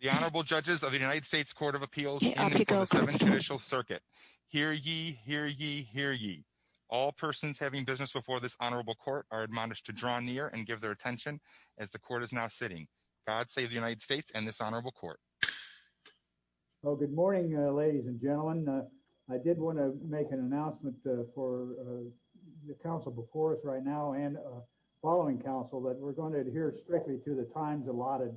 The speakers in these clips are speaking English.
The Honorable Judges of the United States Court of Appeals in the United States Judicial Circuit. Hear ye, hear ye, hear ye. All persons having business before this Honorable Court are admonished to draw near and give their attention as the Court is now sitting. God save the United States and this Honorable Court. Well, good morning, ladies and gentlemen. I did want to make an announcement for the Council before us right now and following Council that we're going to adhere strictly to the times allotted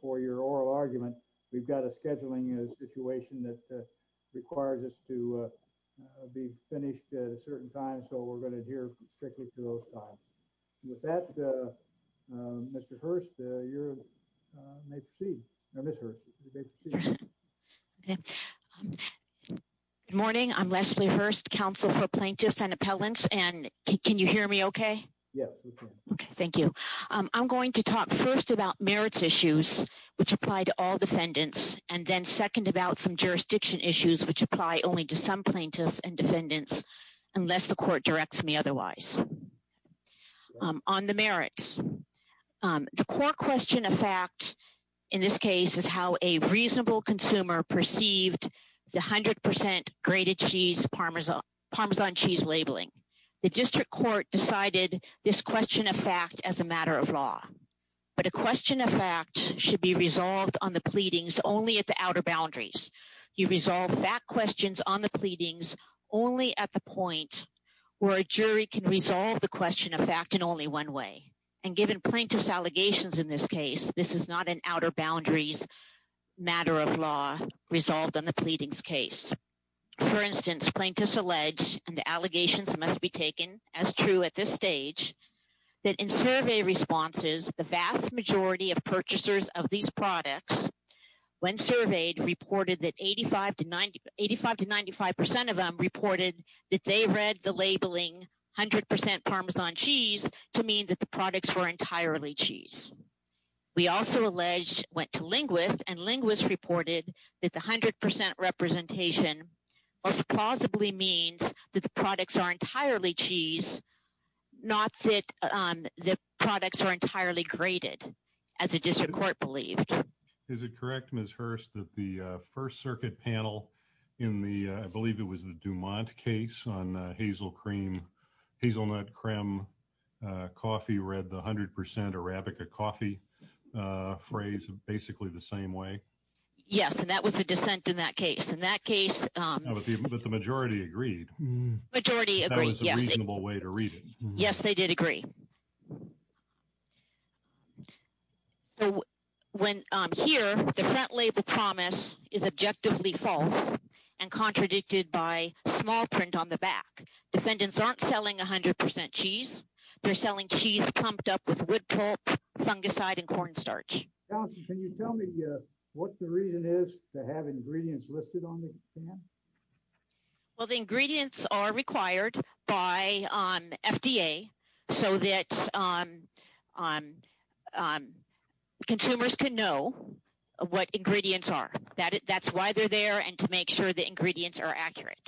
for your oral argument. We've got a scheduling situation that requires us to be finished at a certain time, so we're going to adhere strictly to those times. With that, Mr. Hurst, you may proceed, or Ms. Hurst, you may proceed. Good morning, I'm Leslie Hurst, Counsel for Plaintiffs and Appellants, and can you hear me okay? Yes, we can. Okay, thank you. I'm going to talk first about merits issues, which apply to all defendants, and then second about some jurisdiction issues, which apply only to some plaintiffs and defendants, unless the Court directs me otherwise. On the merits, the core question of fact in this case is how a reasonable consumer perceived the 100% grated cheese Parmesan cheese labeling. The District Court decided this question of fact as a matter of law, but a question of fact should be resolved on the pleadings only at the outer boundaries. You resolve fact questions on the pleadings only at the point where a jury can resolve the question of fact in only one way, and given plaintiffs' allegations in this case, this is not an outer boundaries matter of law resolved on the pleadings case. For instance, plaintiffs allege, and the allegations must be taken as true at this stage, that in survey responses, the vast majority of purchasers of these products, when surveyed, reported that 85 to 95% of them reported that they read the labeling 100% Parmesan cheese to mean that the products were entirely cheese. We also allege, went to linguists, and linguists reported that the 100% representation most the products are entirely graded, as the District Court believed. Is it correct, Ms. Hurst, that the First Circuit panel in the, I believe it was the Dumont case on hazelnut creme coffee read the 100% Arabica coffee phrase basically the same way? Yes, and that was the dissent in that case. In that case... But the majority agreed. Majority agreed, yes. That was a reasonable way to read it. Yes, they did agree. So when here, the front label promise is objectively false and contradicted by small print on the back. Defendants aren't selling 100% cheese, they're selling cheese clumped up with wood pulp, fungicide, and cornstarch. Counselor, can you tell me what the reason is to have ingredients listed on the can? Well, the ingredients are required by FDA so that consumers can know what ingredients are. That's why they're there and to make sure the ingredients are accurate.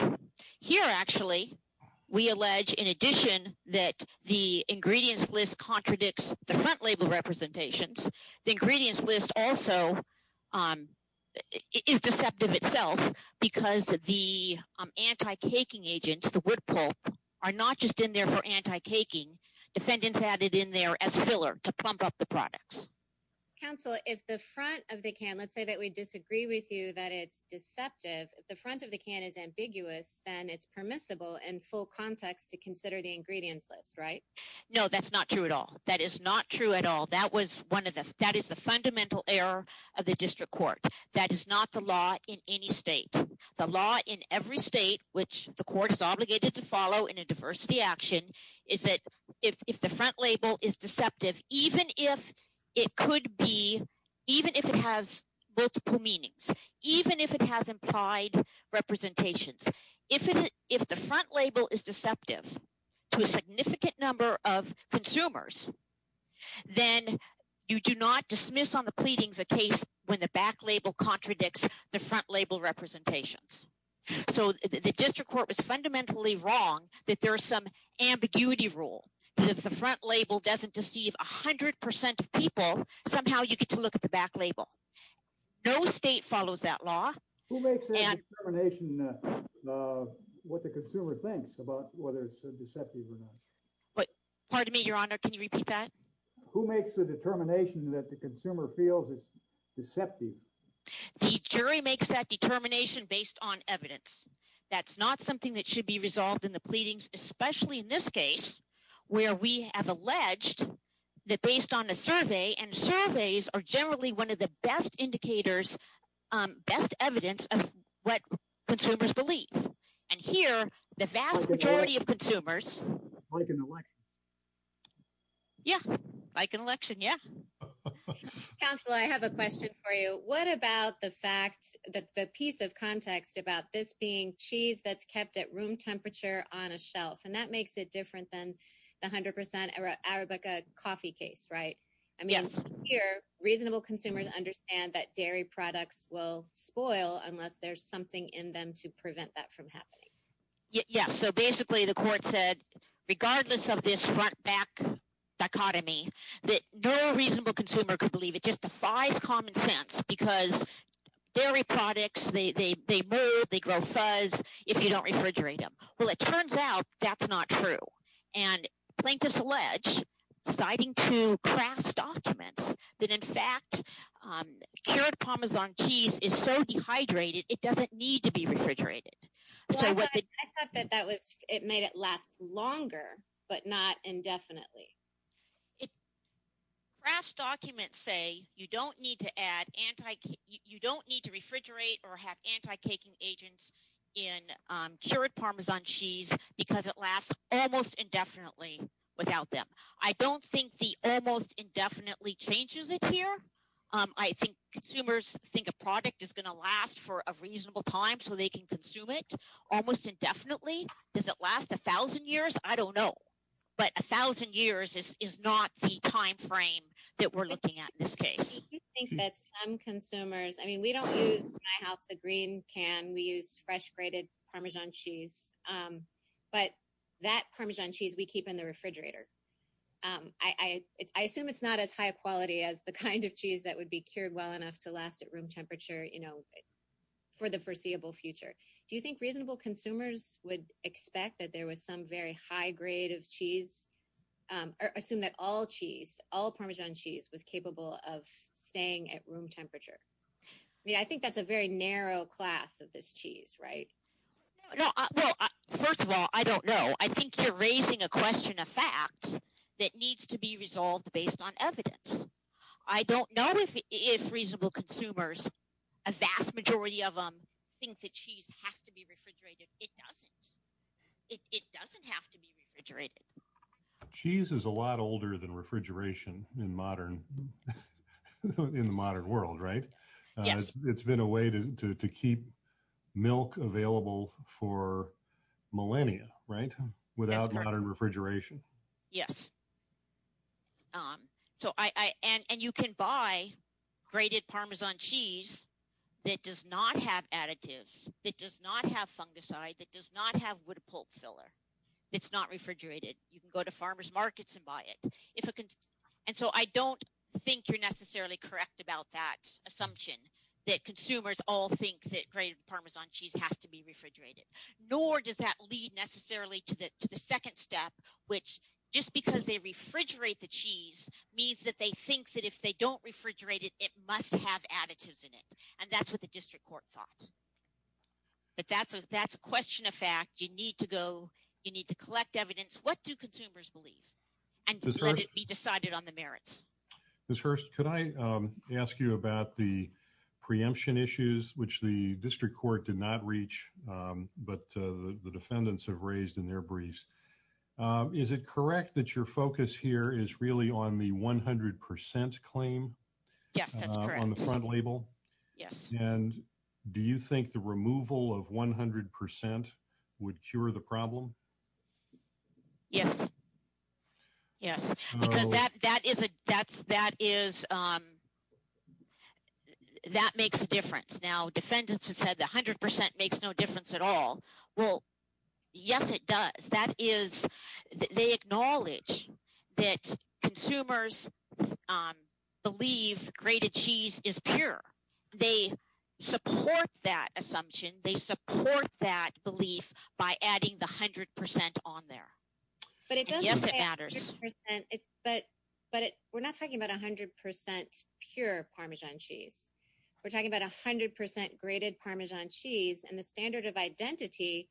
Here actually, we allege in addition that the ingredients list contradicts the front the front of the can, let's say that we disagree with you that it's deceptive, if the front of the can is ambiguous, then it's permissible in full context to consider the ingredients list, right? No, that's not true at all. That is not true at all. That was one of the... That is the fundamental error of the district court. That is not the law in any state. The law in every state, which the court is obligated to follow in a diversity action, is that if the front label is deceptive, even if it could be, even if it has multiple meanings, even if it has implied representations, if the front label is deceptive to a significant number of consumers, then you do not dismiss on the pleadings a case when the back label contradicts the front label representations. So the district court was fundamentally wrong that there are some ambiguity rule, and if the front label doesn't deceive 100% of people, somehow you get to look at the back label. No state follows that law. Who makes the determination what the consumer thinks about whether it's deceptive or not? But pardon me, your honor, can you repeat that? Who makes the determination that the consumer feels it's deceptive? The jury makes that determination based on evidence. That's not something that should be resolved in the pleadings, especially in this case, where we have alleged that based on a survey, and surveys are generally one of the best indicators, best evidence of what consumers believe. And here, the vast majority of consumers... Like an election. Yeah, like an election, yeah. Counselor, I have a question for you. What about the fact that the piece of context about this being cheese that's kept at room temperature on a shelf, and that makes it different than the 100% Arabica coffee case, right? Yes. I mean, here, reasonable consumers understand that dairy products will spoil unless there's something in them to prevent that from happening. Yeah, so basically, the court said, regardless of this front-back dichotomy, that no reasonable consumer could believe it just defies common sense, because dairy products, they mold, they grow fuzz if you don't refrigerate them. Well, it turns out that's not true. And plaintiffs allege, citing two crass documents, that in fact, cured Parmesan cheese is so dehydrated, it doesn't need to be refrigerated. Well, I thought that it made it last longer, but not indefinitely. Crass documents say you don't need to refrigerate or have anti-caking agents in cured Parmesan cheese, because it lasts almost indefinitely without them. I don't think the almost indefinitely changes it here. I think consumers think a product is going to last for a reasonable time, so they can consume it almost indefinitely. Does it last 1,000 years? I don't know. But 1,000 years is not the time frame that we're looking at in this case. I do think that some consumers, I mean, we don't use, in my house, the green can. We use fresh-grated Parmesan cheese, but that Parmesan cheese, we keep in the refrigerator. I assume it's not as high quality as the kind of cheese that would be cured well enough to last at room temperature for the foreseeable future. Do you think reasonable consumers would expect that there was some very high grade of cheese, or assume that all cheese, all Parmesan cheese, was capable of staying at room temperature? I think that's a very narrow class of this cheese, right? No. Well, first of all, I don't know. I think you're raising a question of fact that needs to be resolved based on evidence. I don't know if reasonable consumers, a vast majority of them, think that cheese has to be refrigerated. It doesn't. It doesn't have to be refrigerated. Cheese is a lot older than refrigeration in the modern world, right? Yes. It's been a way to keep milk available for millennia, right? Without modern refrigeration. Yes. And you can buy grated Parmesan cheese that does not have additives, that does not have fungicide, that does not have wood pulp filler. It's not refrigerated. You can go to farmer's markets and buy it. And so I don't think you're necessarily correct about that assumption, that consumers all think that grated Parmesan cheese has to be refrigerated. Nor does that lead necessarily to the second step, which just because they refrigerate the cheese means that they think that if they don't refrigerate it, it must have additives in it. And that's what the district court thought. But that's a question of fact. You need to go, you need to collect evidence. What do consumers believe? And let it be decided on the merits. Ms. Hurst, could I ask you about the preemption issues, which the district court did not reach but the defendants have raised in their briefs. Is it correct that your focus here is really on the 100% claim on the front label? Yes, that's correct. And do you think the removal of 100% would cure the problem? Yes. Yes. Because that is a, that's, that is, that makes a difference. Now, defendants have said that 100% makes no difference at all. Well, yes, it does. That is, they acknowledge that consumers believe grated cheese is pure. They support that assumption. They support that belief by adding the 100% on there. But it doesn't matter. Yes, it matters. But we're not talking about 100% pure Parmesan cheese. We're talking about 100% grated Parmesan cheese and the standard of identity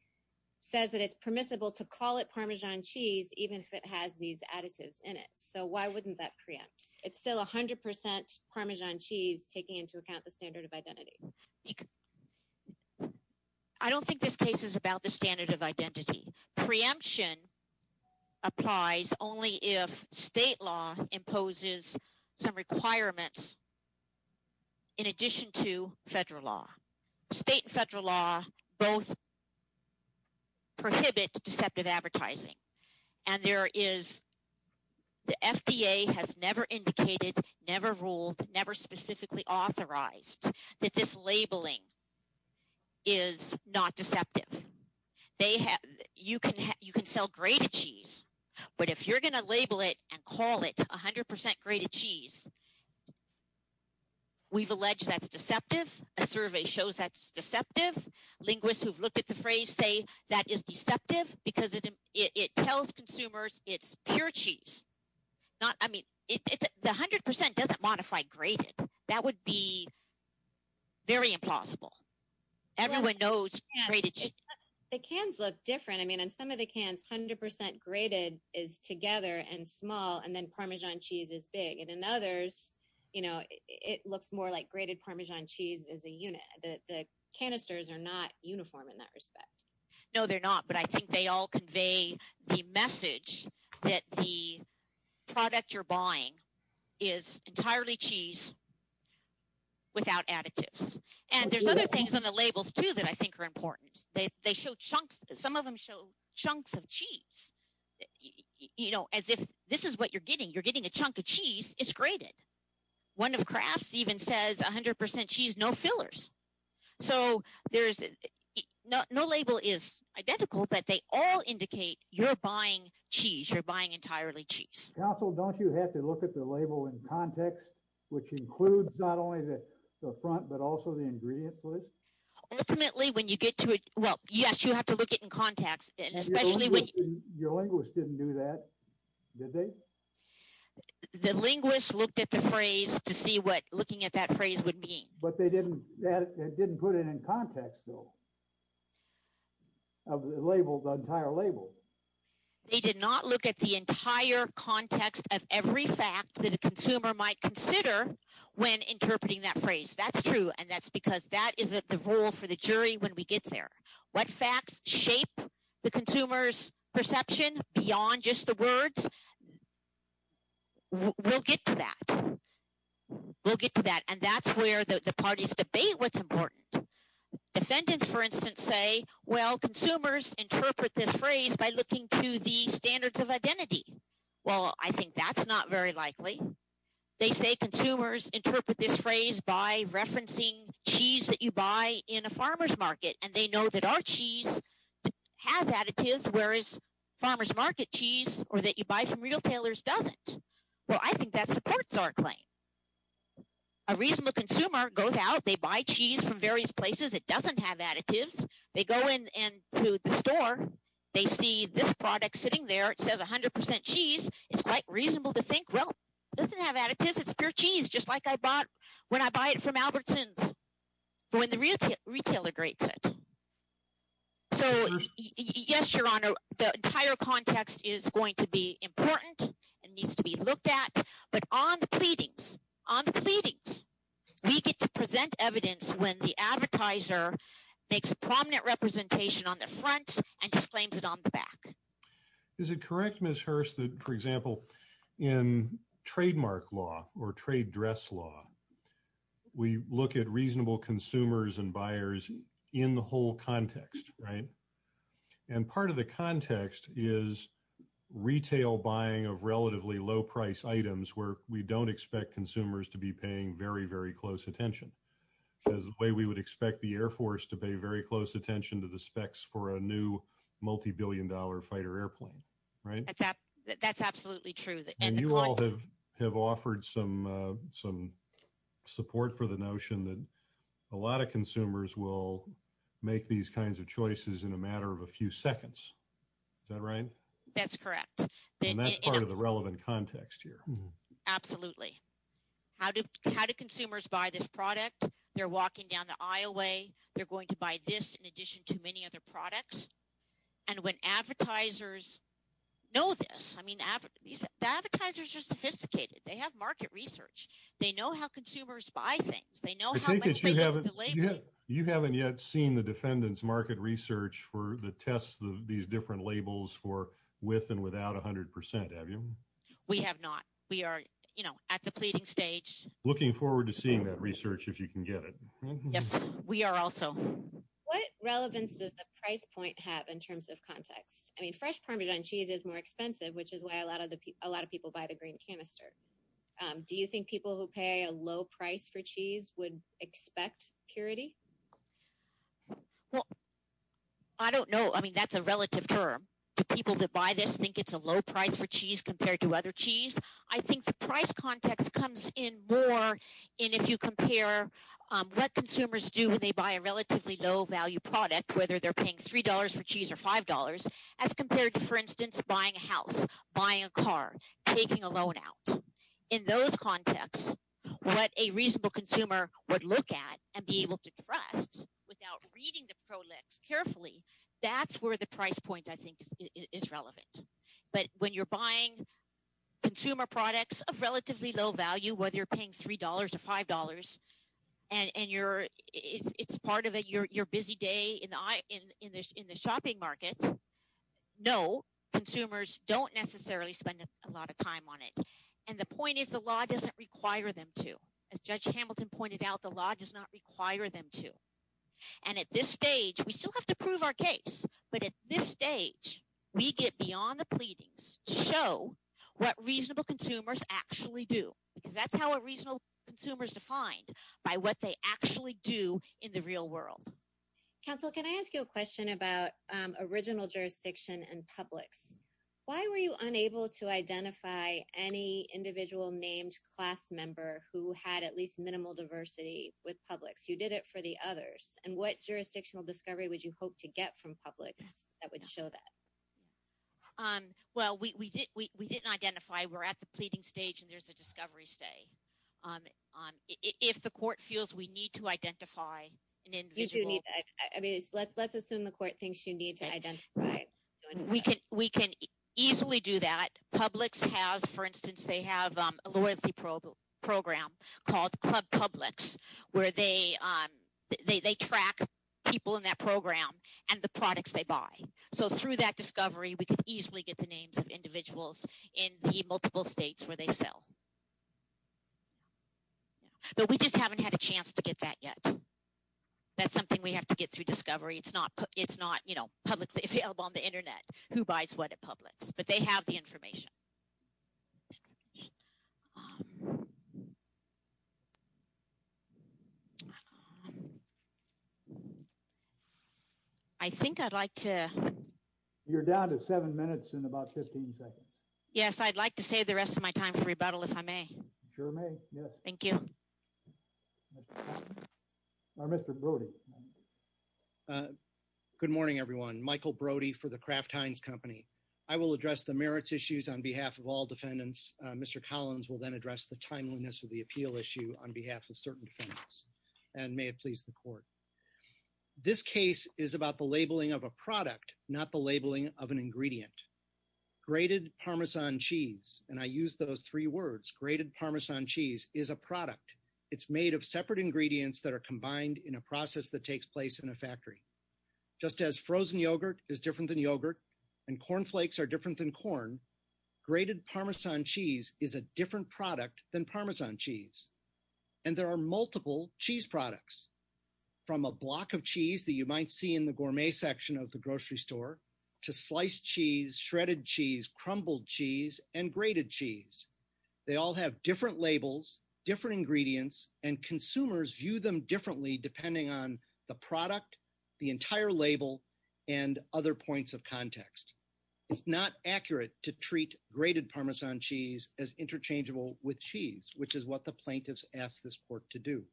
says that it's permissible to call it Parmesan cheese even if it has these additives in it. So why wouldn't that preempt? It's still 100% Parmesan cheese taking into account the standard of identity. I don't think this case is about the standard of identity. Preemption applies only if state law imposes some requirements in addition to federal law. State and federal law both prohibit deceptive advertising. And there is, the FDA has never indicated, never ruled, never specifically authorized that this labeling is not deceptive. They have, you can sell grated cheese, but if you're going to label it and call it 100% grated cheese, we've alleged that's deceptive. A survey shows that's deceptive. Linguists who've looked at the phrase say that is deceptive because it tells consumers it's pure cheese. Not, I mean, the 100% doesn't modify grated. That would be very impossible. Everyone knows grated cheese. The cans look different. I mean, in some of the cans, 100% grated is together and small, and then Parmesan cheese is big. And in others, you know, it looks more like grated Parmesan cheese is a unit. The canisters are not uniform in that respect. No, they're not. But I think they all convey the message that the product you're buying is entirely cheese without additives. And there's other things on the labels, too, that I think are important. They show chunks. Some of them show chunks of cheese, you know, as if this is what you're getting. You're getting a chunk of cheese, it's grated. One of Kraft's even says 100% cheese, no fillers. So there's, no label is identical, but they all indicate you're buying cheese. You're buying entirely cheese. Council, don't you have to look at the label in context, which includes not only the front, but also the ingredients list? Ultimately, when you get to it, well, yes, you have to look at it in context. Your linguist didn't do that, did they? The linguist looked at the phrase to see what looking at that phrase would mean. But they didn't put it in context, though, of the label, the entire label. They did not look at the entire context of every fact that a consumer might consider when interpreting that phrase. That's true, and that's because that is the role for the jury when we get there. What facts shape the consumer's perception beyond just the words? We'll get to that. We'll get to that, and that's where the parties debate what's important. Defendants, for instance, say, well, consumers interpret this phrase by looking to the standards of identity. Well, I think that's not very likely. They say consumers interpret this phrase by referencing cheese that you buy in a farmer's market, and they know that our cheese has additives, whereas farmer's market cheese or that you buy from retailers doesn't. Well, I think that supports our claim. A reasonable consumer goes out. They buy cheese from various places. It doesn't have additives. They go into the store. They see this product sitting there. It says 100% cheese. It's quite reasonable to think, well, it doesn't have additives. It's pure cheese, just like I bought when I buy it from Albertson's for when the retailer grates it. So, yes, Your Honor, the entire context is going to be important and needs to be looked at. But on the pleadings, on the pleadings, we get to present evidence when the advertiser makes a prominent representation on the front and exclaims it on the back. Is it correct, Ms. Hurst, that, for example, in trademark law or trade dress law, we look at reasonable consumers and buyers in the whole context, right? And part of the context is retail buying of relatively low-priced items where we don't expect consumers to be paying very, very close attention. Because the way we would expect the Air Force to pay very close attention to the specs for a new multibillion-dollar fighter airplane, right? That's absolutely true. And you all have offered some support for the notion that a lot of consumers will make these kinds of choices in a matter of a few seconds. Is that right? That's correct. And that's part of the relevant context here. Absolutely. How do consumers buy this product? They're walking down the aisle way. They're going to buy this in addition to many other products. And when advertisers know this, I mean, the advertisers are sophisticated. They have market research. They know how consumers buy things. They know how much they get with the label. You haven't yet seen the defendant's market research for the tests of these different labels for with and without 100%, have you? We have not. We are, you know, at the pleading stage. Looking forward to seeing that research if you can get it. Yes, we are also. What relevance does the price point have in terms of context? I mean, fresh Parmesan cheese is more expensive, which is why a lot of people buy the green canister. Do you think people who pay a low price for cheese would expect purity? Well, I don't know. I mean, that's a relative term to people that buy this, think it's a low price for cheese compared to other cheese. I think the price context comes in more in if you compare what consumers do when they buy a relatively low value product, whether they're paying three dollars for cheese or five dollars as compared to, for instance, buying a house, buying a car, taking a loan out. In those contexts, what a reasonable consumer would look at and be able to trust without reading the prolecs carefully. That's where the price point, I think, is relevant. But when you're buying consumer products of relatively low value, whether you're paying three dollars or five dollars and you're it's part of it, you're busy day in the in the in the shopping market. No, consumers don't necessarily spend a lot of time on it. And the point is, the law doesn't require them to. As Judge Hamilton pointed out, the law does not require them to. And at this stage, we still have to prove our case. But at this stage, we get beyond the pleadings show what reasonable consumers actually do, because that's how a reasonable consumer is defined by what they actually do in the real world. Counsel, can I ask you a question about original jurisdiction and publics? Why were you unable to identify any individual named class member who had at least minimal diversity with publics? You did it for the others. And what jurisdictional discovery would you hope to get from publics that would show that? Well, we did we didn't identify. We're at the pleading stage and there's a discovery stay on if the court feels we need to identify an individual. I mean, let's let's assume the court thinks you need to identify. We can we can easily do that. Publix has, for instance, they have a loyalty program called Publix, where they they track people in that program and the products they buy. So through that discovery, we can easily get the names of individuals in the multiple states where they sell. But we just haven't had a chance to get that yet. That's something we have to get through discovery. It's not it's not, you know, publicly available on the Internet. Who buys what at Publix? But they have the information. I think I'd like to. You're down to seven minutes and about 15 seconds. Yes, I'd like to say the rest of my time for rebuttal, if I may. Sure. Yes, thank you. Mr. Brody. Good morning, everyone. Michael Brody for the Kraft Heinz Company. I will address the merits issues on behalf of all defendants. Mr. Collins will then address the timeliness of the appeal issue on behalf of certain defendants. And may it please the court. This case is about the labeling of a product, not the labeling of an ingredient. Grated Parmesan cheese. And I use those three words. Grated Parmesan cheese is a product. It's made of separate ingredients that are combined in a process that takes place in a factory. Just as frozen yogurt is different than yogurt and corn flakes are different than corn, grated Parmesan cheese is a different product than Parmesan cheese. And there are multiple cheese products from a block of cheese that you might see in the gourmet section of the grocery store to sliced cheese, shredded cheese, crumbled cheese and grated cheese. They all have different labels, different ingredients, and consumers view them differently depending on the product, the entire label and other points of context. It's not accurate to treat grated Parmesan cheese as interchangeable with cheese, which is what the plaintiffs asked this court to do.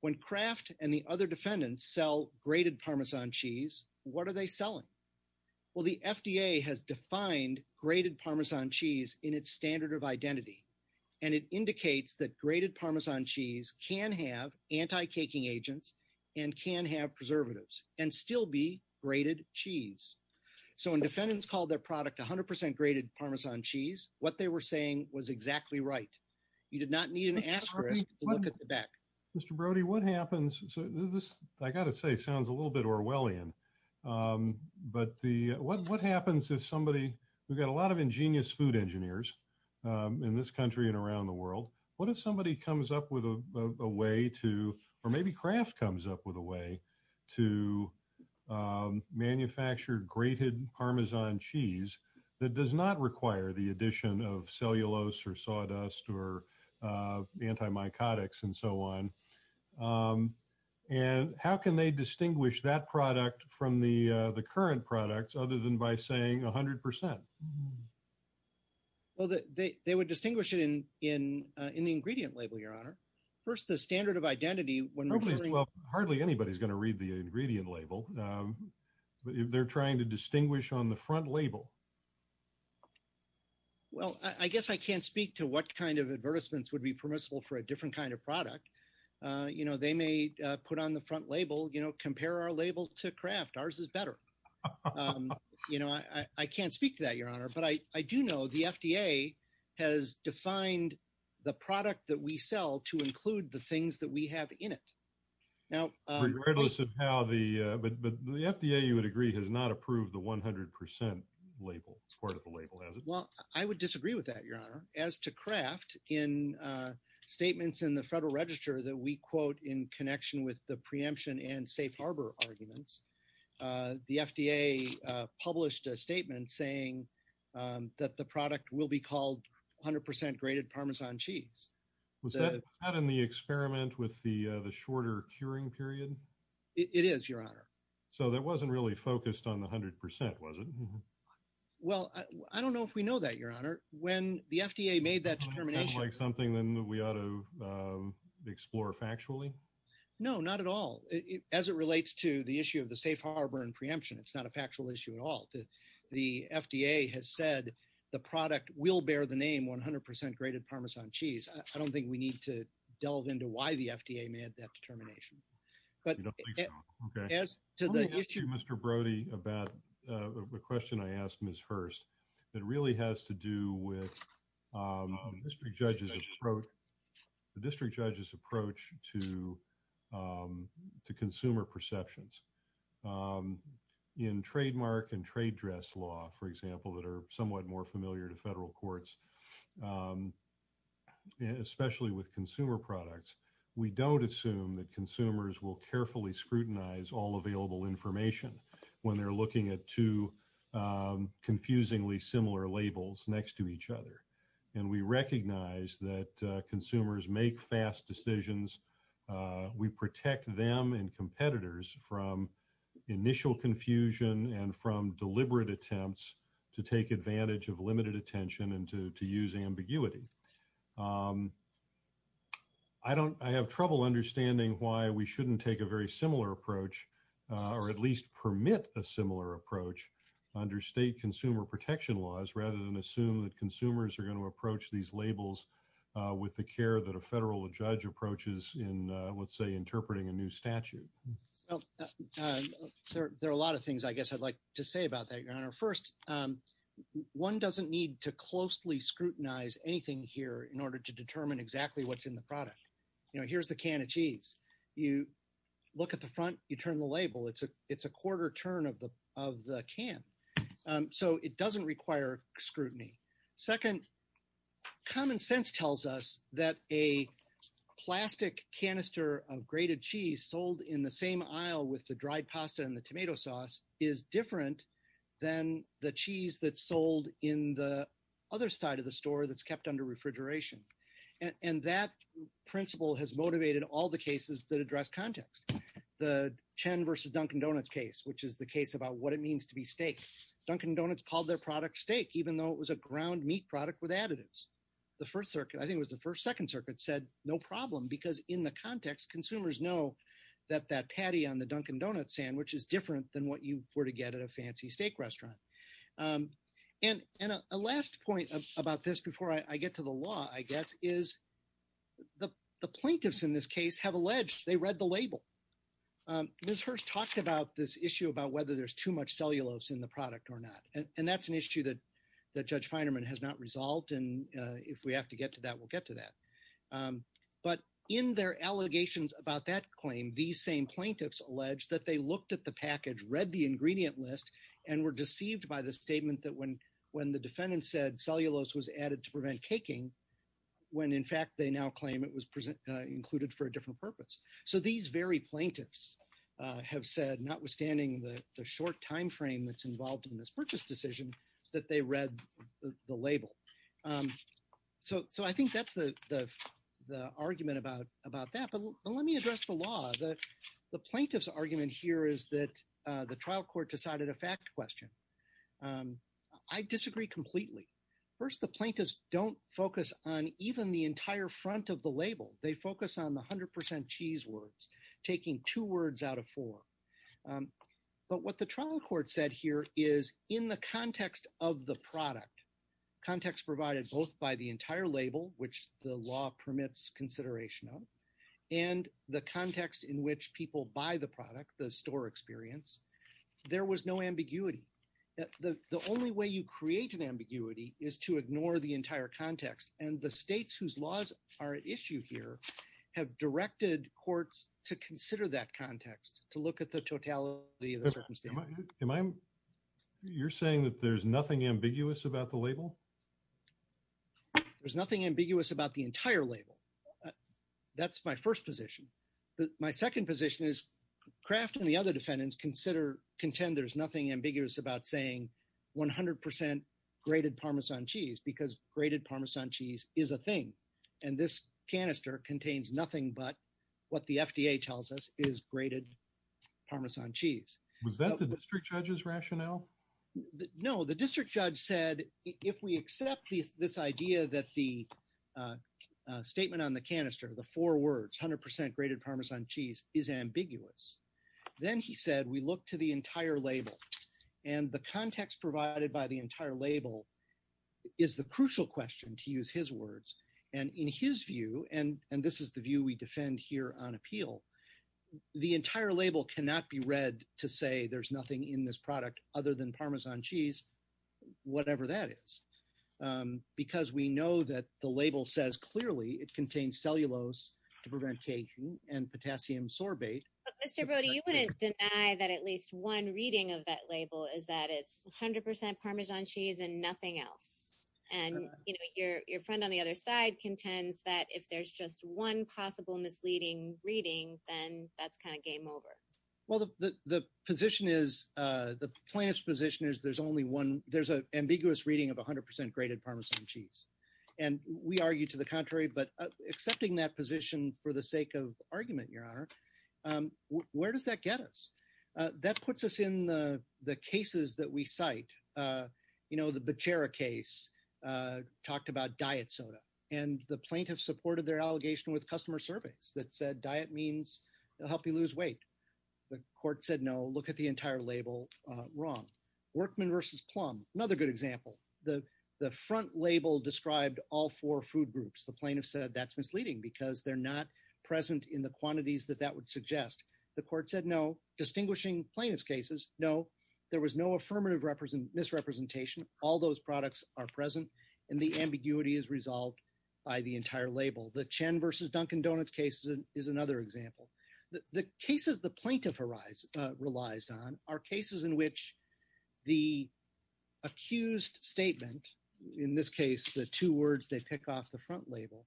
When Kraft and the other defendants sell grated Parmesan cheese, what are they selling? Well, the FDA has defined grated Parmesan cheese in its standard of identity, and it indicates that grated Parmesan cheese can have anti-caking agents and can have preservatives and still be grated cheese. So when defendants called their product 100 percent grated Parmesan cheese, what they were saying was exactly right. You did not need an asterisk to look at the back. Mr. Brody, what happens? This, I got to say, sounds a little bit Orwellian. But what happens if somebody, we've got a lot of ingenious food engineers in this country and around the world. What if somebody comes up with a way to, or maybe Kraft comes up with a way to manufacture grated Parmesan cheese that does not require the addition of cellulose or sawdust or antimicotics and so on? And how can they distinguish that product from the current products, other than by saying 100 percent? Well, they would distinguish it in the ingredient label, Your Honor. First, the standard of identity. Well, hardly anybody's going to read the ingredient label. They're trying to distinguish on the front label. Well, I guess I can't speak to what kind of advertisements would be permissible for a different kind of product. You know, they may put on the front label, you know, compare our label to Kraft. Ours is better. You know, I can't speak to that, Your Honor. But I do know the FDA has defined the product that we sell to include the things that we have in it. Now, regardless of how the, but the FDA, you would agree, has not approved the 100 percent label, part of the label, has it? Well, I would disagree with that, Your Honor. As to Kraft, in statements in the Federal Register that we quote in connection with the preemption and safe harbor arguments, the FDA published a statement saying that the product will be called 100 percent grated Parmesan cheese. Was that in the experiment with the shorter curing period? It is, Your Honor. So that wasn't really focused on the 100 percent, was it? When the FDA made that determination. Is that like something that we ought to explore factually? No, not at all. As it relates to the issue of the safe harbor and preemption, it's not a factual issue at all. The FDA has said the product will bear the name 100 percent grated Parmesan cheese. I don't think we need to delve into why the FDA made that determination. I don't think so. Okay. To the issue, Mr. Brody, about the question I asked Ms. Hurst, it really has to do with the district judge's approach to consumer perceptions. In trademark and trade dress law, for example, that are somewhat more familiar to federal courts, especially with consumer products, we don't assume that information when they're looking at two confusingly similar labels next to each other. And we recognize that consumers make fast decisions. We protect them and competitors from initial confusion and from deliberate attempts to take advantage of limited attention and to use ambiguity. I have trouble understanding why we shouldn't take a very similar approach or at least permit a similar approach under state consumer protection laws, rather than assume that consumers are going to approach these labels with the care that a federal judge approaches in, let's say, interpreting a new statute. There are a lot of things, I guess, I'd like to say about that, Your Honor. First, one doesn't need to closely scrutinize anything here in order to determine exactly what's in the product. You know, here's the can of cheese. You look at the front, you turn the label. It's a quarter turn of the can. So it doesn't require scrutiny. Second, common sense tells us that a plastic canister of grated cheese sold in the aisle with the dried pasta and the tomato sauce is different than the cheese that's sold in the other side of the store that's kept under refrigeration. And that principle has motivated all the cases that address context. The Chen versus Dunkin' Donuts case, which is the case about what it means to be steak. Dunkin' Donuts called their product steak, even though it was a ground meat product with additives. The First Circuit, I think it was the First or Second Circuit, said no problem because in the context, consumers know that that patty on the Dunkin' Donuts sandwich is different than what you were to get at a fancy steak restaurant. And a last point about this before I get to the law, I guess, is the plaintiffs in this case have alleged they read the label. Ms. Hirst talked about this issue about whether there's too much cellulose in the product or not. And that's an issue that Judge Feinerman has not resolved. And if we have to get to that, we'll get to that. But in their allegations about that claim, these same plaintiffs allege that they looked at the package, read the ingredient list, and were deceived by the statement that when the defendant said cellulose was added to prevent caking, when, in fact, they now claim it was included for a different purpose. So these very plaintiffs have said, notwithstanding the short timeframe that's involved in this purchase decision, that they read the label. So I think that's the argument about that. But let me address the law. The plaintiff's argument here is that the trial court decided a fact question. I disagree completely. First, the plaintiffs don't focus on even the entire front of the label. They focus on the 100 percent cheese words, taking two words out of four. But what the trial court said here is, in the context of the product, context provided both by the entire label, which the law permits consideration of, and the context in which people buy the product, the store experience, there was no ambiguity. The only way you create an ambiguity is to ignore the entire context. And the states whose laws are at issue here have directed courts to consider that context, to look at the totality of the circumstance. Am I am you're saying that there's nothing ambiguous about the label? There's nothing ambiguous about the entire label. That's my first position. But my second position is Kraft and the other defendants consider, contend there's nothing ambiguous about saying 100 percent grated Parmesan cheese, because grated Parmesan cheese is a thing. And this canister contains nothing but what the FDA tells us is grated Parmesan cheese. Was that the district judge's rationale? No. The district judge said if we accept this idea that the statement on the canister, the four words, 100 percent grated Parmesan cheese, is ambiguous, then he said we look to the entire label. And the context provided by the entire label is the crucial question, to use his words, in his view, and this is the view we defend here on appeal. The entire label cannot be read to say there's nothing in this product other than Parmesan cheese, whatever that is, because we know that the label says clearly it contains cellulose to prevent aging and potassium sorbate. But Mr. Brody, you wouldn't deny that at least one reading of that label is that it's 100 percent Parmesan cheese and nothing else. And your friend on the other side contends that if there's just one possible misleading reading, then that's kind of game over. Well, the position is, the plaintiff's position is there's only one, there's an ambiguous reading of 100 percent grated Parmesan cheese. And we argue to the contrary, but accepting that position for the sake of argument, Your Honor, where does that get us? That puts us in the cases that we cite. You know, the Becerra case talked about diet soda, and the plaintiff supported their allegation with customer surveys that said diet means it'll help you lose weight. The court said, no, look at the entire label wrong. Workman versus Plum, another good example. The front label described all four food groups. The plaintiff said that's misleading because they're not present in the quantities that that would suggest. The court said no. Distinguishing plaintiff's cases, no, there was no affirmative misrepresentation. All those products are present, and the ambiguity is resolved by the entire label. The Chen versus Dunkin Donuts case is another example. The cases the plaintiff relies on are cases in which the accused statement, in this case, the two words they pick off the front label,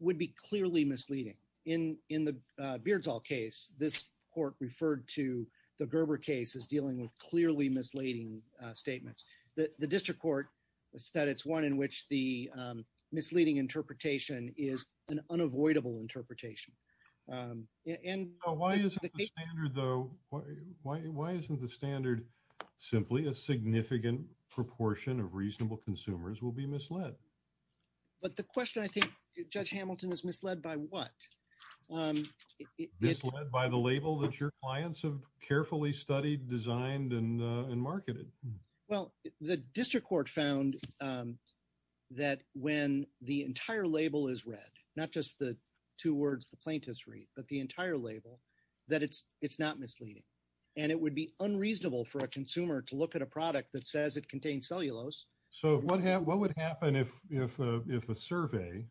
would be clearly misleading. In the Beardsall case, this court referred to the Gerber case as dealing with clearly misleading statements. The district court said it's one in which the misleading interpretation is an unavoidable interpretation. And why isn't the standard simply a significant proportion of reasonable consumers will be misled? But the question I think, Judge Hamilton, is misled by what? Misled by the label that your clients have carefully studied, designed, and marketed. Well, the district court found that when the entire label is read, not just the two words, but the entire label, that it's not misleading. And it would be unreasonable for a consumer to look at a product that says it contains cellulose. So what would happen if a survey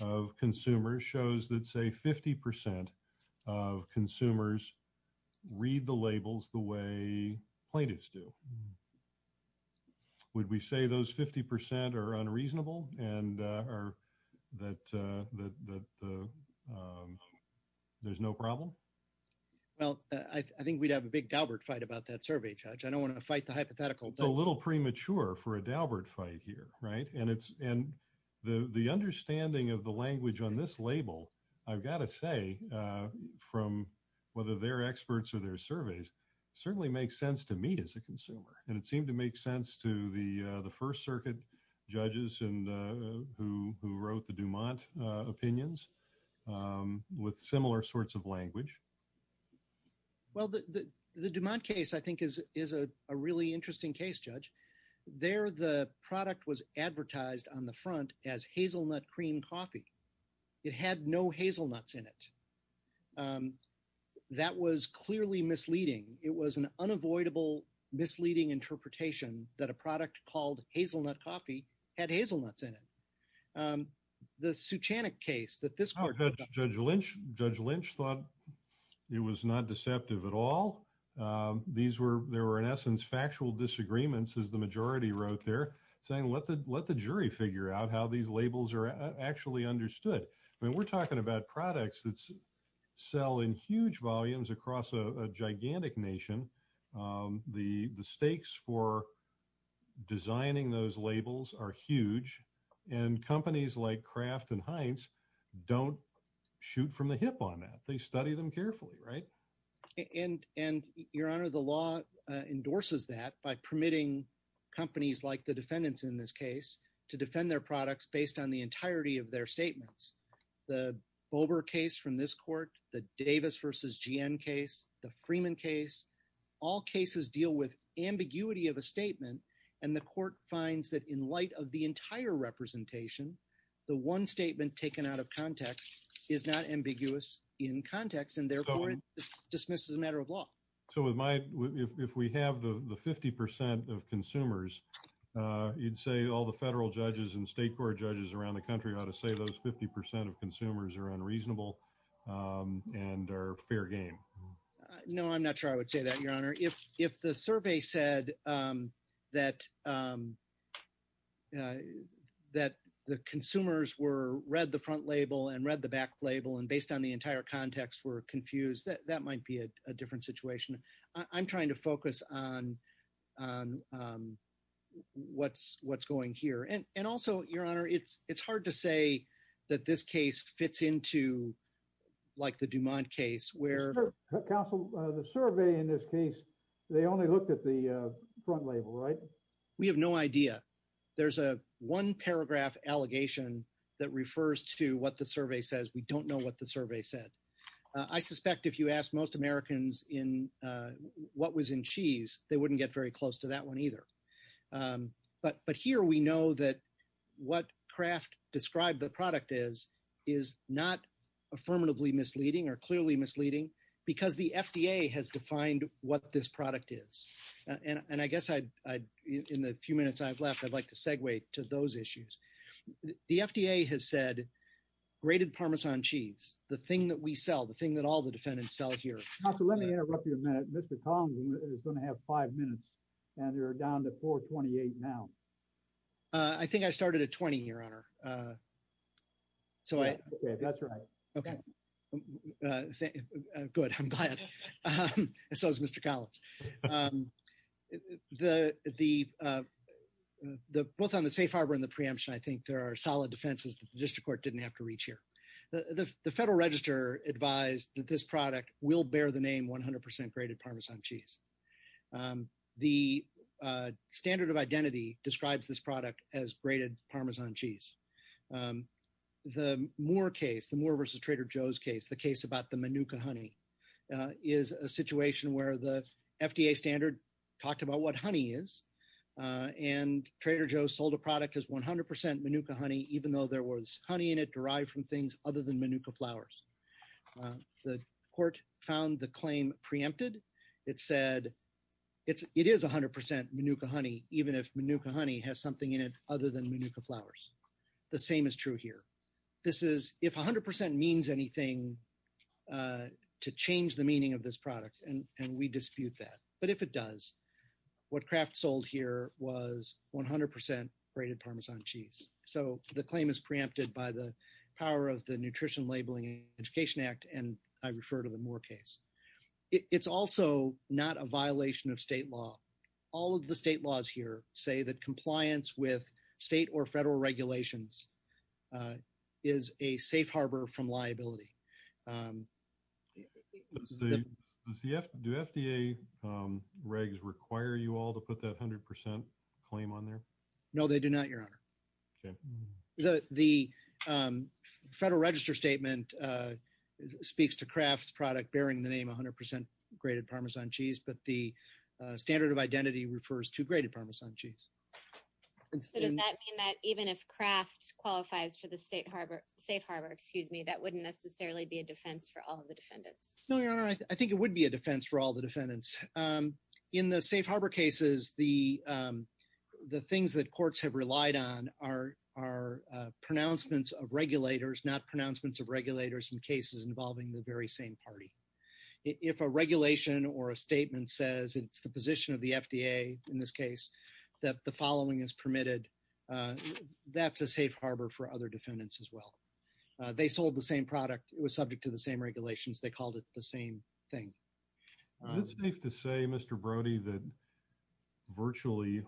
of consumers shows that, say, 50% of consumers read the labels the way plaintiffs do? Would we say those 50% are unreasonable and that there's no problem? Well, I think we'd have a big Daubert fight about that survey, Judge. I don't want to fight the hypothetical. It's a little premature for a Daubert fight here, right? And the understanding of the language on this label, I've got to say, from whether they're And it seemed to make sense to the First Circuit judges who wrote the DuMont opinions with similar sorts of language. Well, the DuMont case, I think, is a really interesting case, Judge. There, the product was advertised on the front as hazelnut cream coffee. It had no hazelnuts in it. That was clearly misleading. It was an unavoidable, misleading interpretation that a product called hazelnut coffee had hazelnuts in it. The Suchanuck case that this court... Oh, Judge Lynch thought it was not deceptive at all. There were, in essence, factual disagreements, as the majority wrote there, saying let the jury figure out how these labels are actually understood. We're talking about products that sell in huge volumes across a gigantic nation. The stakes for designing those labels are huge. And companies like Kraft and Heinz don't shoot from the hip on that. They study them carefully, right? And Your Honor, the law endorses that by permitting companies like the defendants in this case to defend their products based on the entirety of their statements. The Bober case from this court, the Davis versus G.N. case, the Freeman case, all cases deal with ambiguity of a statement. And the court finds that in light of the entire representation, the one statement taken out of context is not ambiguous in context. And therefore, it dismisses a matter of law. So, if we have the 50 percent of consumers, you'd say all the federal judges and state court judges around the country ought to say those 50 percent of consumers are unreasonable and are fair game. No, I'm not sure I would say that, Your Honor. If the survey said that the consumers read the front label and read the back label and based on the entire context were confused, that might be a different situation. I'm trying to focus on what's going here. And also, Your Honor, it's hard to say that this case fits into like the Dumont case where counsel, the survey in this case, they only looked at the front label, right? We have no idea. There's a one paragraph allegation that refers to what the survey says. We don't know what the survey said. I suspect if you ask most Americans in what was in cheese, they wouldn't get very close to that one either. But here, we know that what Kraft described the product as is not affirmatively misleading or clearly misleading because the FDA has defined what this product is. And I guess in the few minutes I've left, I'd like to segue to those issues. The FDA has said, grated Parmesan cheese, the thing that we sell, the thing that all the defendants sell here. Counsel, let me interrupt you a minute. Mr. Kong is going to have five minutes and you're down to 428 now. I think I started at 20 here, Your Honor. So that's right. Okay. Good. I'm glad. So is Mr. Collins. Both on the safe harbor and the preemption, I think there are solid defenses that the district court didn't have to reach here. The Federal Register advised that this product will bear the name 100% grated Parmesan cheese. The standard of identity describes this product as grated Parmesan cheese. The Moore case, the Moore versus Trader Joe's case, the case about the Manuka honey, is a situation where the FDA standard talked about what honey is. And Trader Joe's sold a product as 100% Manuka honey, even though there was honey in it derived from things other than Manuka flowers. The court found the claim preempted. It said it is 100% Manuka honey, even if Manuka honey has something in it other than Manuka flowers. The same is true here. This is if 100% means anything to change the meaning of this product, and we dispute that. But if it does, what Kraft sold here was 100% grated Parmesan cheese. So, the claim is preempted by the power of the Nutrition Labeling Education Act, and I refer to the Moore case. It's also not a violation of state law. All of the state laws here say that compliance with state or federal regulations is a safe harbor from liability. Do FDA regs require you all to put that 100% claim on there? No, they do not, Your Honor. The federal register statement speaks to Kraft's product bearing the name 100% grated Parmesan cheese, but the standard of identity refers to grated Parmesan cheese. Does that mean that even if Kraft qualifies for the safe harbor, that wouldn't necessarily be a defense for all of the defendants? No, Your Honor. I think it would be a defense for all the defendants. In the safe harbor cases, the things that courts have relied on are pronouncements of regulators, not pronouncements of regulators in cases involving the very same party. If a regulation or a statement says it's the position of the FDA, in this case, that the following is permitted, that's a safe harbor for other defendants as well. They sold the same product. It was subject to the same regulations. They called it the same thing. Is it safe to say, Mr. Brody, that virtually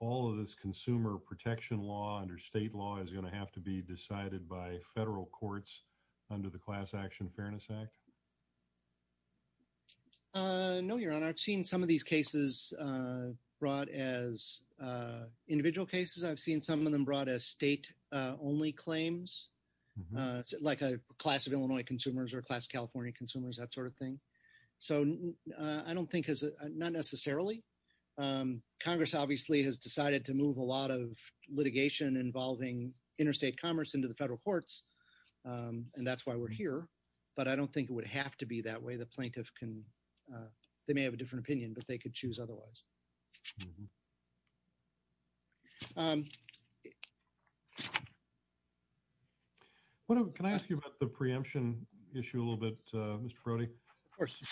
all of this consumer protection law under state law is going to have to be decided by federal courts under the Class Action Fairness Act? No, Your Honor. I've seen some of these cases brought as individual cases. I've seen some of them brought as state-only claims, like a class of Illinois consumers or a class of California consumers, that sort of thing. I don't think, not necessarily. Congress, obviously, has decided to move a lot of litigation involving interstate commerce into the federal courts, and that's why we're here. But I don't think it would have to be that way. The plaintiff can, they may have a different opinion, but they could choose otherwise. Can I ask you about the preemption issue a little bit, Mr. Brody? Of course.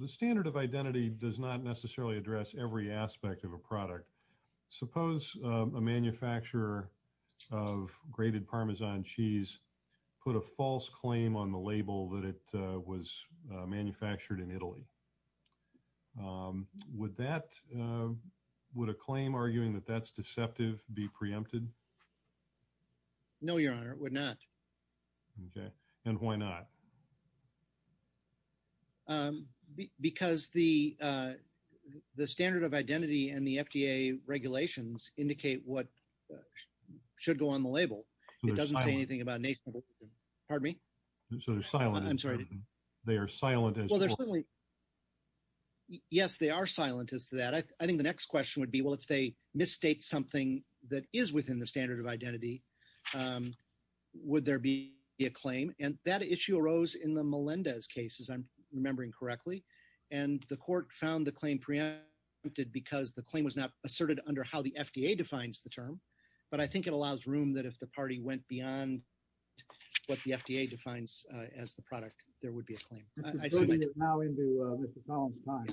The standard of identity does not necessarily address every aspect of a product. Suppose a manufacturer of grated Parmesan cheese put a false claim on the label that it was manufactured in Italy. Would a claim arguing that that's deceptive be preempted? No, Your Honor, it would not. Okay. And why not? Because the standard of identity and the FDA regulations indicate what should go on the label. It doesn't say anything about nationalism. Pardon me? So they're silent. I'm sorry. They are silent as to that. Yes, they are silent as to that. I think the next question would be, well, if they misstate something that is within the standard of identity, would there be a claim? And that issue arose in the Melendez cases, if I'm remembering correctly. And the court found the claim preempted because the claim was not asserted under how the FDA defines the term. But I think it allows room that if the party went beyond what the FDA defines as the product, there would be a claim. Mr. Brody, you're now into Mr. Collins' time.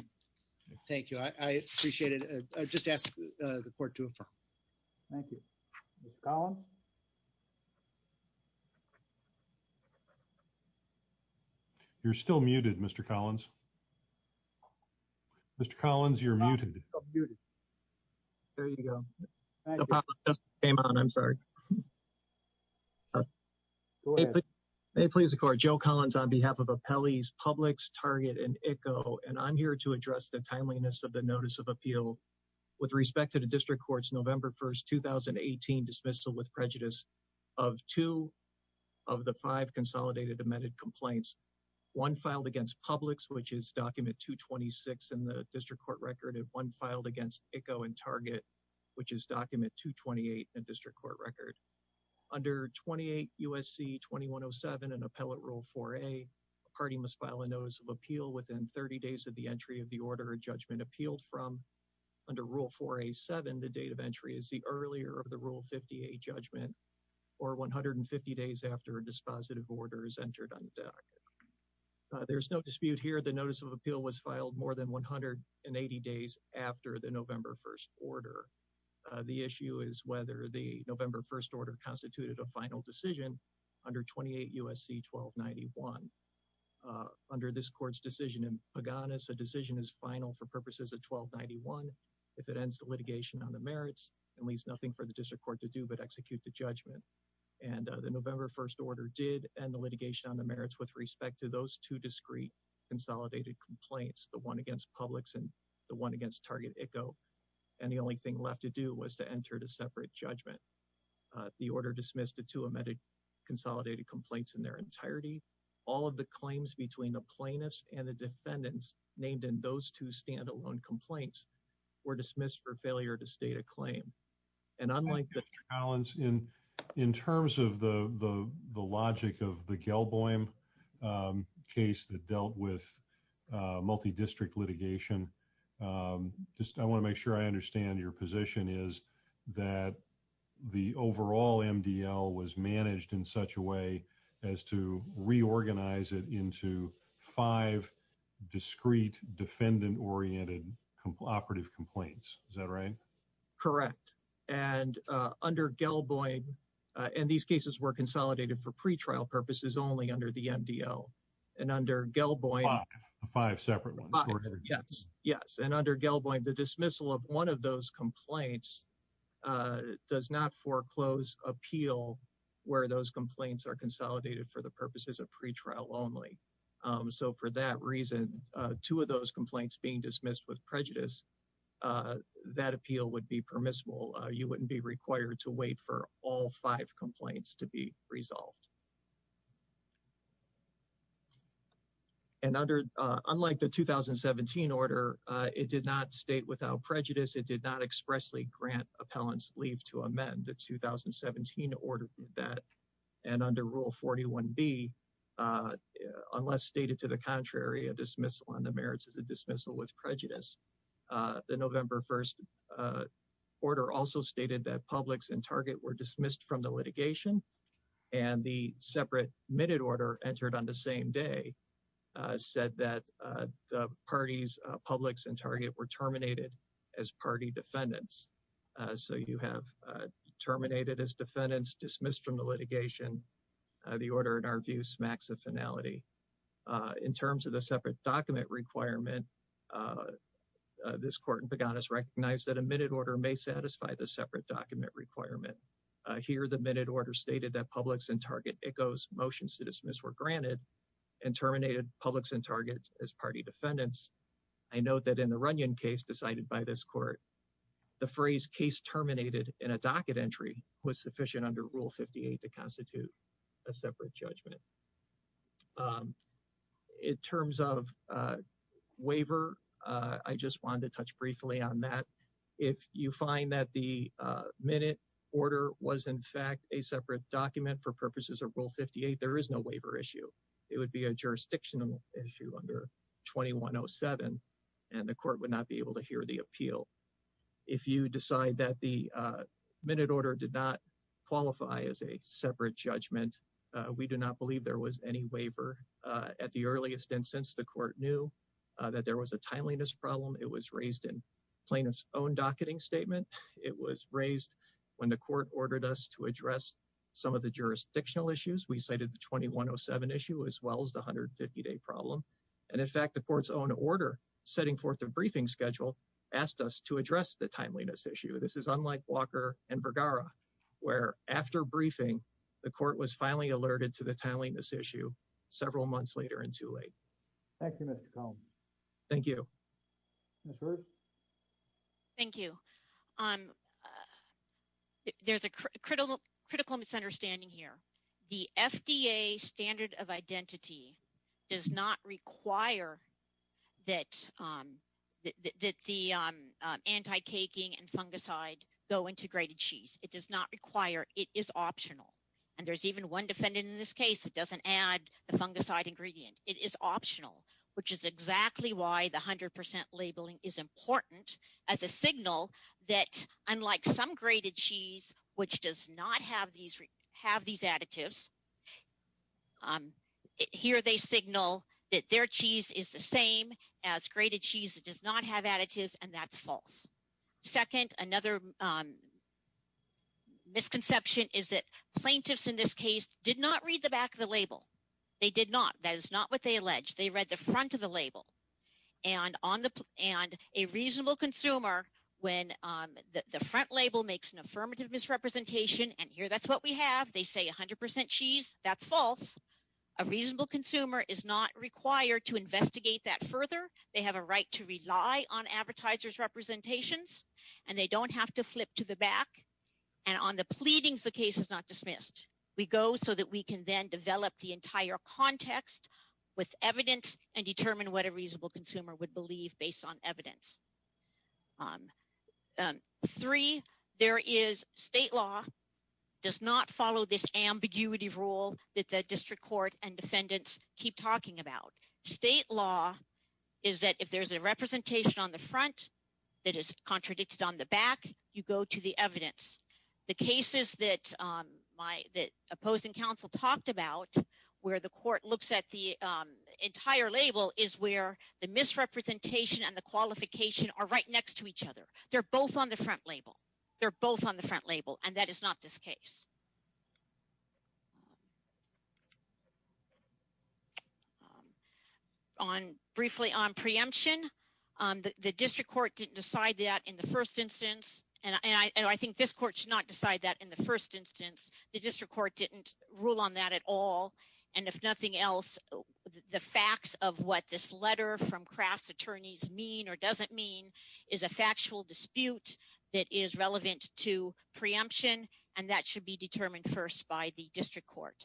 Thank you. I appreciate it. I just ask the court to affirm. Thank you. Mr. Collins? You're still muted, Mr. Collins. Mr. Collins, you're muted. There you go. The problem just came on. I'm sorry. May it please the court, Joe Collins on behalf of Appellees Publix, Target, and ICHO, and I'm here to address the timeliness of the notice of appeal with respect to the district complaints. One filed against Publix, which is document 226 in the district court record, and one filed against ICHO and Target, which is document 228 in the district court record. Under 28 U.S.C. 2107 and Appellate Rule 4a, a party must file a notice of appeal within 30 days of the entry of the order or judgment appealed from. Under Rule 4a.7, the date of entry is the earlier of the Rule 50a judgment or 150 days after a dispositive order is entered on the docket. There's no dispute here. The notice of appeal was filed more than 180 days after the November 1st order. The issue is whether the November 1st order constituted a final decision under 28 U.S.C. 1291. Under this court's decision in Paganis, a decision is final for purposes of 1291 if it ends the litigation on the merits and leaves nothing for the district court to do but execute the judgment. And the November 1st order did end the litigation on the merits with respect to those two discreet consolidated complaints, the one against Publix and the one against Target ICHO, and the only thing left to do was to enter to separate judgment. The order dismissed the two amended consolidated complaints in their entirety. All of the claims between the plaintiffs and the defendants named in those two standalone complaints were dismissed for failure to state a claim. And unlike the- Mr. Collins, in terms of the logic of the Gelboim case that dealt with multi-district litigation, just I want to make sure I understand your position is that the overall MDL was managed in such a way as to reorganize it into five discreet defendant-oriented operative complaints. Is that right? Correct. And under Gelboim, and these cases were consolidated for pretrial purposes only under the MDL. And under Gelboim- Five. Five separate ones. Yes. Yes. And under Gelboim, the dismissal of one of those complaints does not foreclose appeal where those complaints are consolidated for the purposes of pretrial only. So for that reason, two of those complaints being dismissed with prejudice, that appeal would be permissible. You wouldn't be required to wait for all five complaints to be resolved. And unlike the 2017 order, it did not state without prejudice. It did not expressly grant appellants leave to amend. The 2017 order did that. And under Rule 41B, unless stated to the contrary, a dismissal on the merits is a dismissal with prejudice. The November 1st order also stated that Publix and Target were dismissed from the litigation. And the separate admitted order entered on the same day said that the parties, Publix and Target were terminated as party defendants. So you have terminated as defendants, dismissed from the litigation. The order, in our view, smacks of finality. In terms of the separate document requirement, this court in Paganis recognized that admitted order may satisfy the separate document requirement. Here, the admitted order stated that Publix and Target echoes motions to dismiss were granted and terminated Publix and Target as party defendants. I note that in the Runyon case decided by this court, the phrase case terminated in a docket entry was sufficient under Rule 58 to constitute a separate judgment. In terms of waiver, I just wanted to touch briefly on that. If you find that the minute order was, in fact, a separate document for purposes of Rule 58, there is no waiver issue. It would be a jurisdictional issue under 2107, and the court would not be able to hear the appeal. If you decide that the minute order did not qualify as a separate judgment, we do not believe there was any waiver at the earliest. And since the court knew that there was a timeliness problem, it was raised in plaintiff's own docketing statement. It was raised when the court ordered us to address some of the jurisdictional issues. We cited the 2107 issue as well as the 150-day problem. And, in fact, the court's own order setting forth a briefing schedule asked us to address the timeliness issue. This is unlike Walker and Vergara, where after briefing, the court was finally alerted to the timeliness issue several months later and too late. Thank you, Mr. Cohn. Thank you. Ms. Hurd? Thank you. There's a critical misunderstanding here. The FDA standard of identity does not require that the anti-caking and fungicide go into grated cheese. It does not require. It is optional. And there's even one defendant in this case that doesn't add the fungicide ingredient. It is optional, which is exactly why the 100% labeling is important as a signal that, unlike some grated cheese, which does not have these additives, here they signal that their cheese is the same as grated cheese that does not have additives, and that's false. Second, another misconception is that plaintiffs in this case did not read the back of the label. They did not. That is not what they alleged. They read the front of the label. And a reasonable consumer, when the front label makes an affirmative misrepresentation, and here that's what we have, they say 100% cheese, that's false. A reasonable consumer is not required to investigate that further. They have a right to rely on advertisers' representations, and they don't have to flip to the back. And on the pleadings, the case is not dismissed. We go so that we can then develop the entire context with evidence and determine what a reasonable consumer would believe based on evidence. Three, there is state law does not follow this ambiguity rule that the district court and defendants keep talking about. State law is that if there's a representation on the front that is contradicted on the back, you go to the evidence. The cases that opposing counsel talked about where the court looks at the entire label is where the misrepresentation and the qualification are right next to each other. They're both on the front label. They're both on the front label, and that is not this case. Briefly on preemption, the district court didn't decide that in the first instance, and I think this court should not decide that in the first instance. The district court didn't rule on that at all, and if nothing else, the facts of what this letter from Kraft's attorneys mean or doesn't mean is a factual dispute that is relevant to preemption, and that should be determined first by the district court.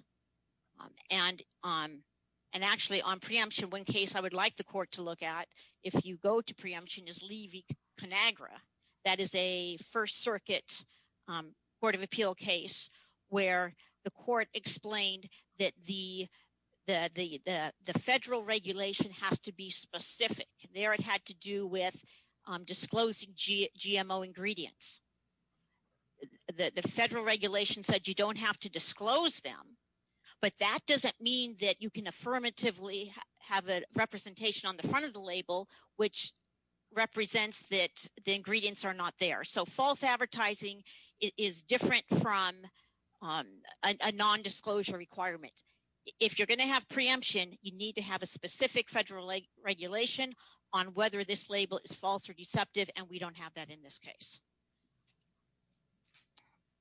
And actually, on preemption, one case I would like the court to look at if you go to preemption is Levy-Conagra. That is a First Circuit Court of Appeal case where the court explained that the federal regulation has to be specific. There it had to do with disclosing GMO ingredients. The federal regulation said you don't have to disclose them, but that doesn't mean that you can affirmatively have a representation on the front of the label which represents that the ingredients are not there. So false advertising is different from a nondisclosure requirement. If you're going to have preemption, you need to have a specific federal regulation on whether this label is false or deceptive, and we don't have that in this case.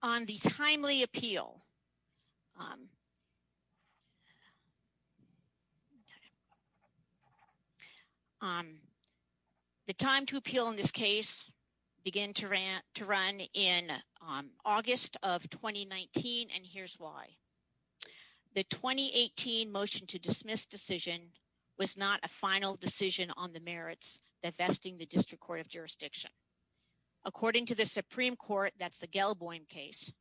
On the timely appeal, the time to appeal in this case began to run in August of 2019, and here's why. The 2018 motion to dismiss decision was not a final decision on the merits that vesting the district court of jurisdiction. According to the Supreme Court, that's the Gelboim case,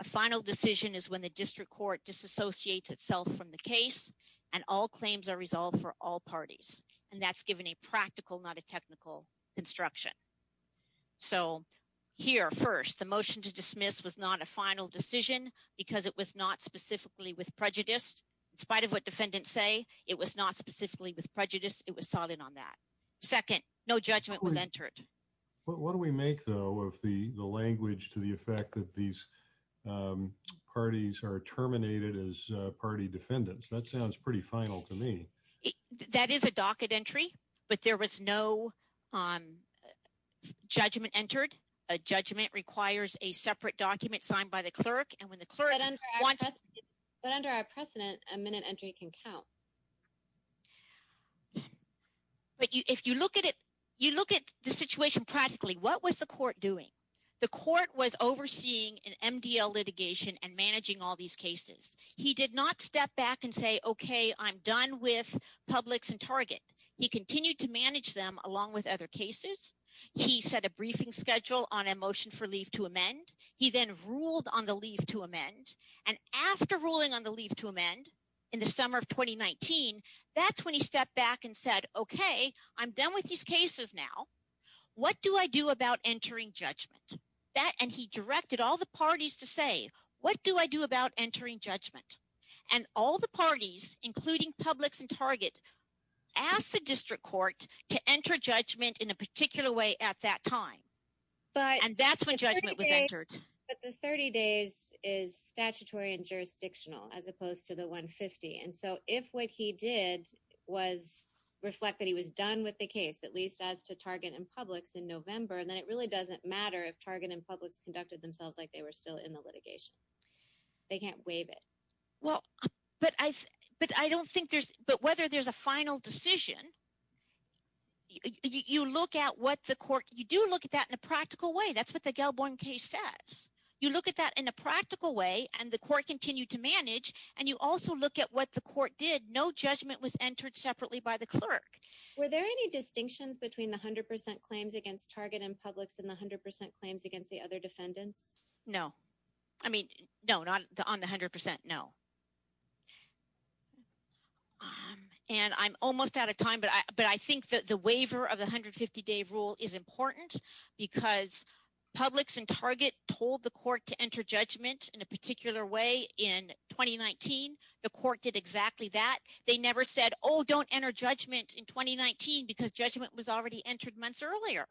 a final decision is when the district court disassociates itself from the case and all claims are resolved for all parties, and that's given a practical, not a technical construction. So here, first, the motion to dismiss was not a final decision because it was not specifically with prejudice. In spite of what defendants say, it was not specifically with prejudice. It was solid on that. Second, no judgment was entered. What do we make, though, of the language to the effect that these parties are terminated as party defendants? That sounds pretty final to me. That is a docket entry, but there was no judgment entered. A judgment requires a separate document signed by the clerk, and when the clerk wants to But under our precedent, a minute entry can count. But if you look at it, you look at the situation practically, what was the court doing? The court was overseeing an MDL litigation and managing all these cases. He did not step back and say, okay, I'm done with Publix and Target. He continued to manage them along with other cases. He set a briefing schedule on a motion for leave to amend. He then ruled on the leave to amend, and after ruling on the leave to amend, in the summer of 2019, that's when he stepped back and said, okay, I'm done with these cases now. What do I do about entering judgment? And he directed all the parties to say, what do I do about entering judgment? And all the parties, including Publix and Target, asked the district court to enter judgment in a particular way at that time, and that's when judgment was entered. But the 30 days is statutory and jurisdictional, as opposed to the 150. And so if what he did was reflect that he was done with the case, at least as to Target and Publix in November, then it really doesn't matter if Target and Publix conducted themselves like they were still in the litigation. They can't waive it. Well, but I don't think there's, but whether there's a final decision, you look at what the court, you do look at that in a practical way. That's what the Gelborn case says. You look at that in a practical way, and the court continued to manage, and you also look at what the court did. No judgment was entered separately by the clerk. Were there any distinctions between the 100% claims against Target and Publix and the 100% claims against the other defendants? No. I mean, no, not on the 100%, no. And I'm almost out of time, but I think that the waiver of the 150-day rule is important because Publix and Target told the court to enter judgment in a particular way in 2019. The court did exactly that. They never said, oh, don't enter judgment in 2019 because judgment was already entered months earlier.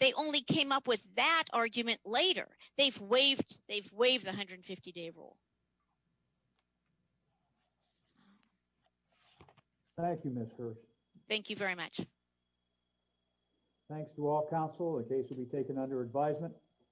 They only came up with that argument later. They've waived the 150-day rule. Thank you, Ms. Hirsh. Thank you very much. Thanks to all counsel. The case will be taken under advisement.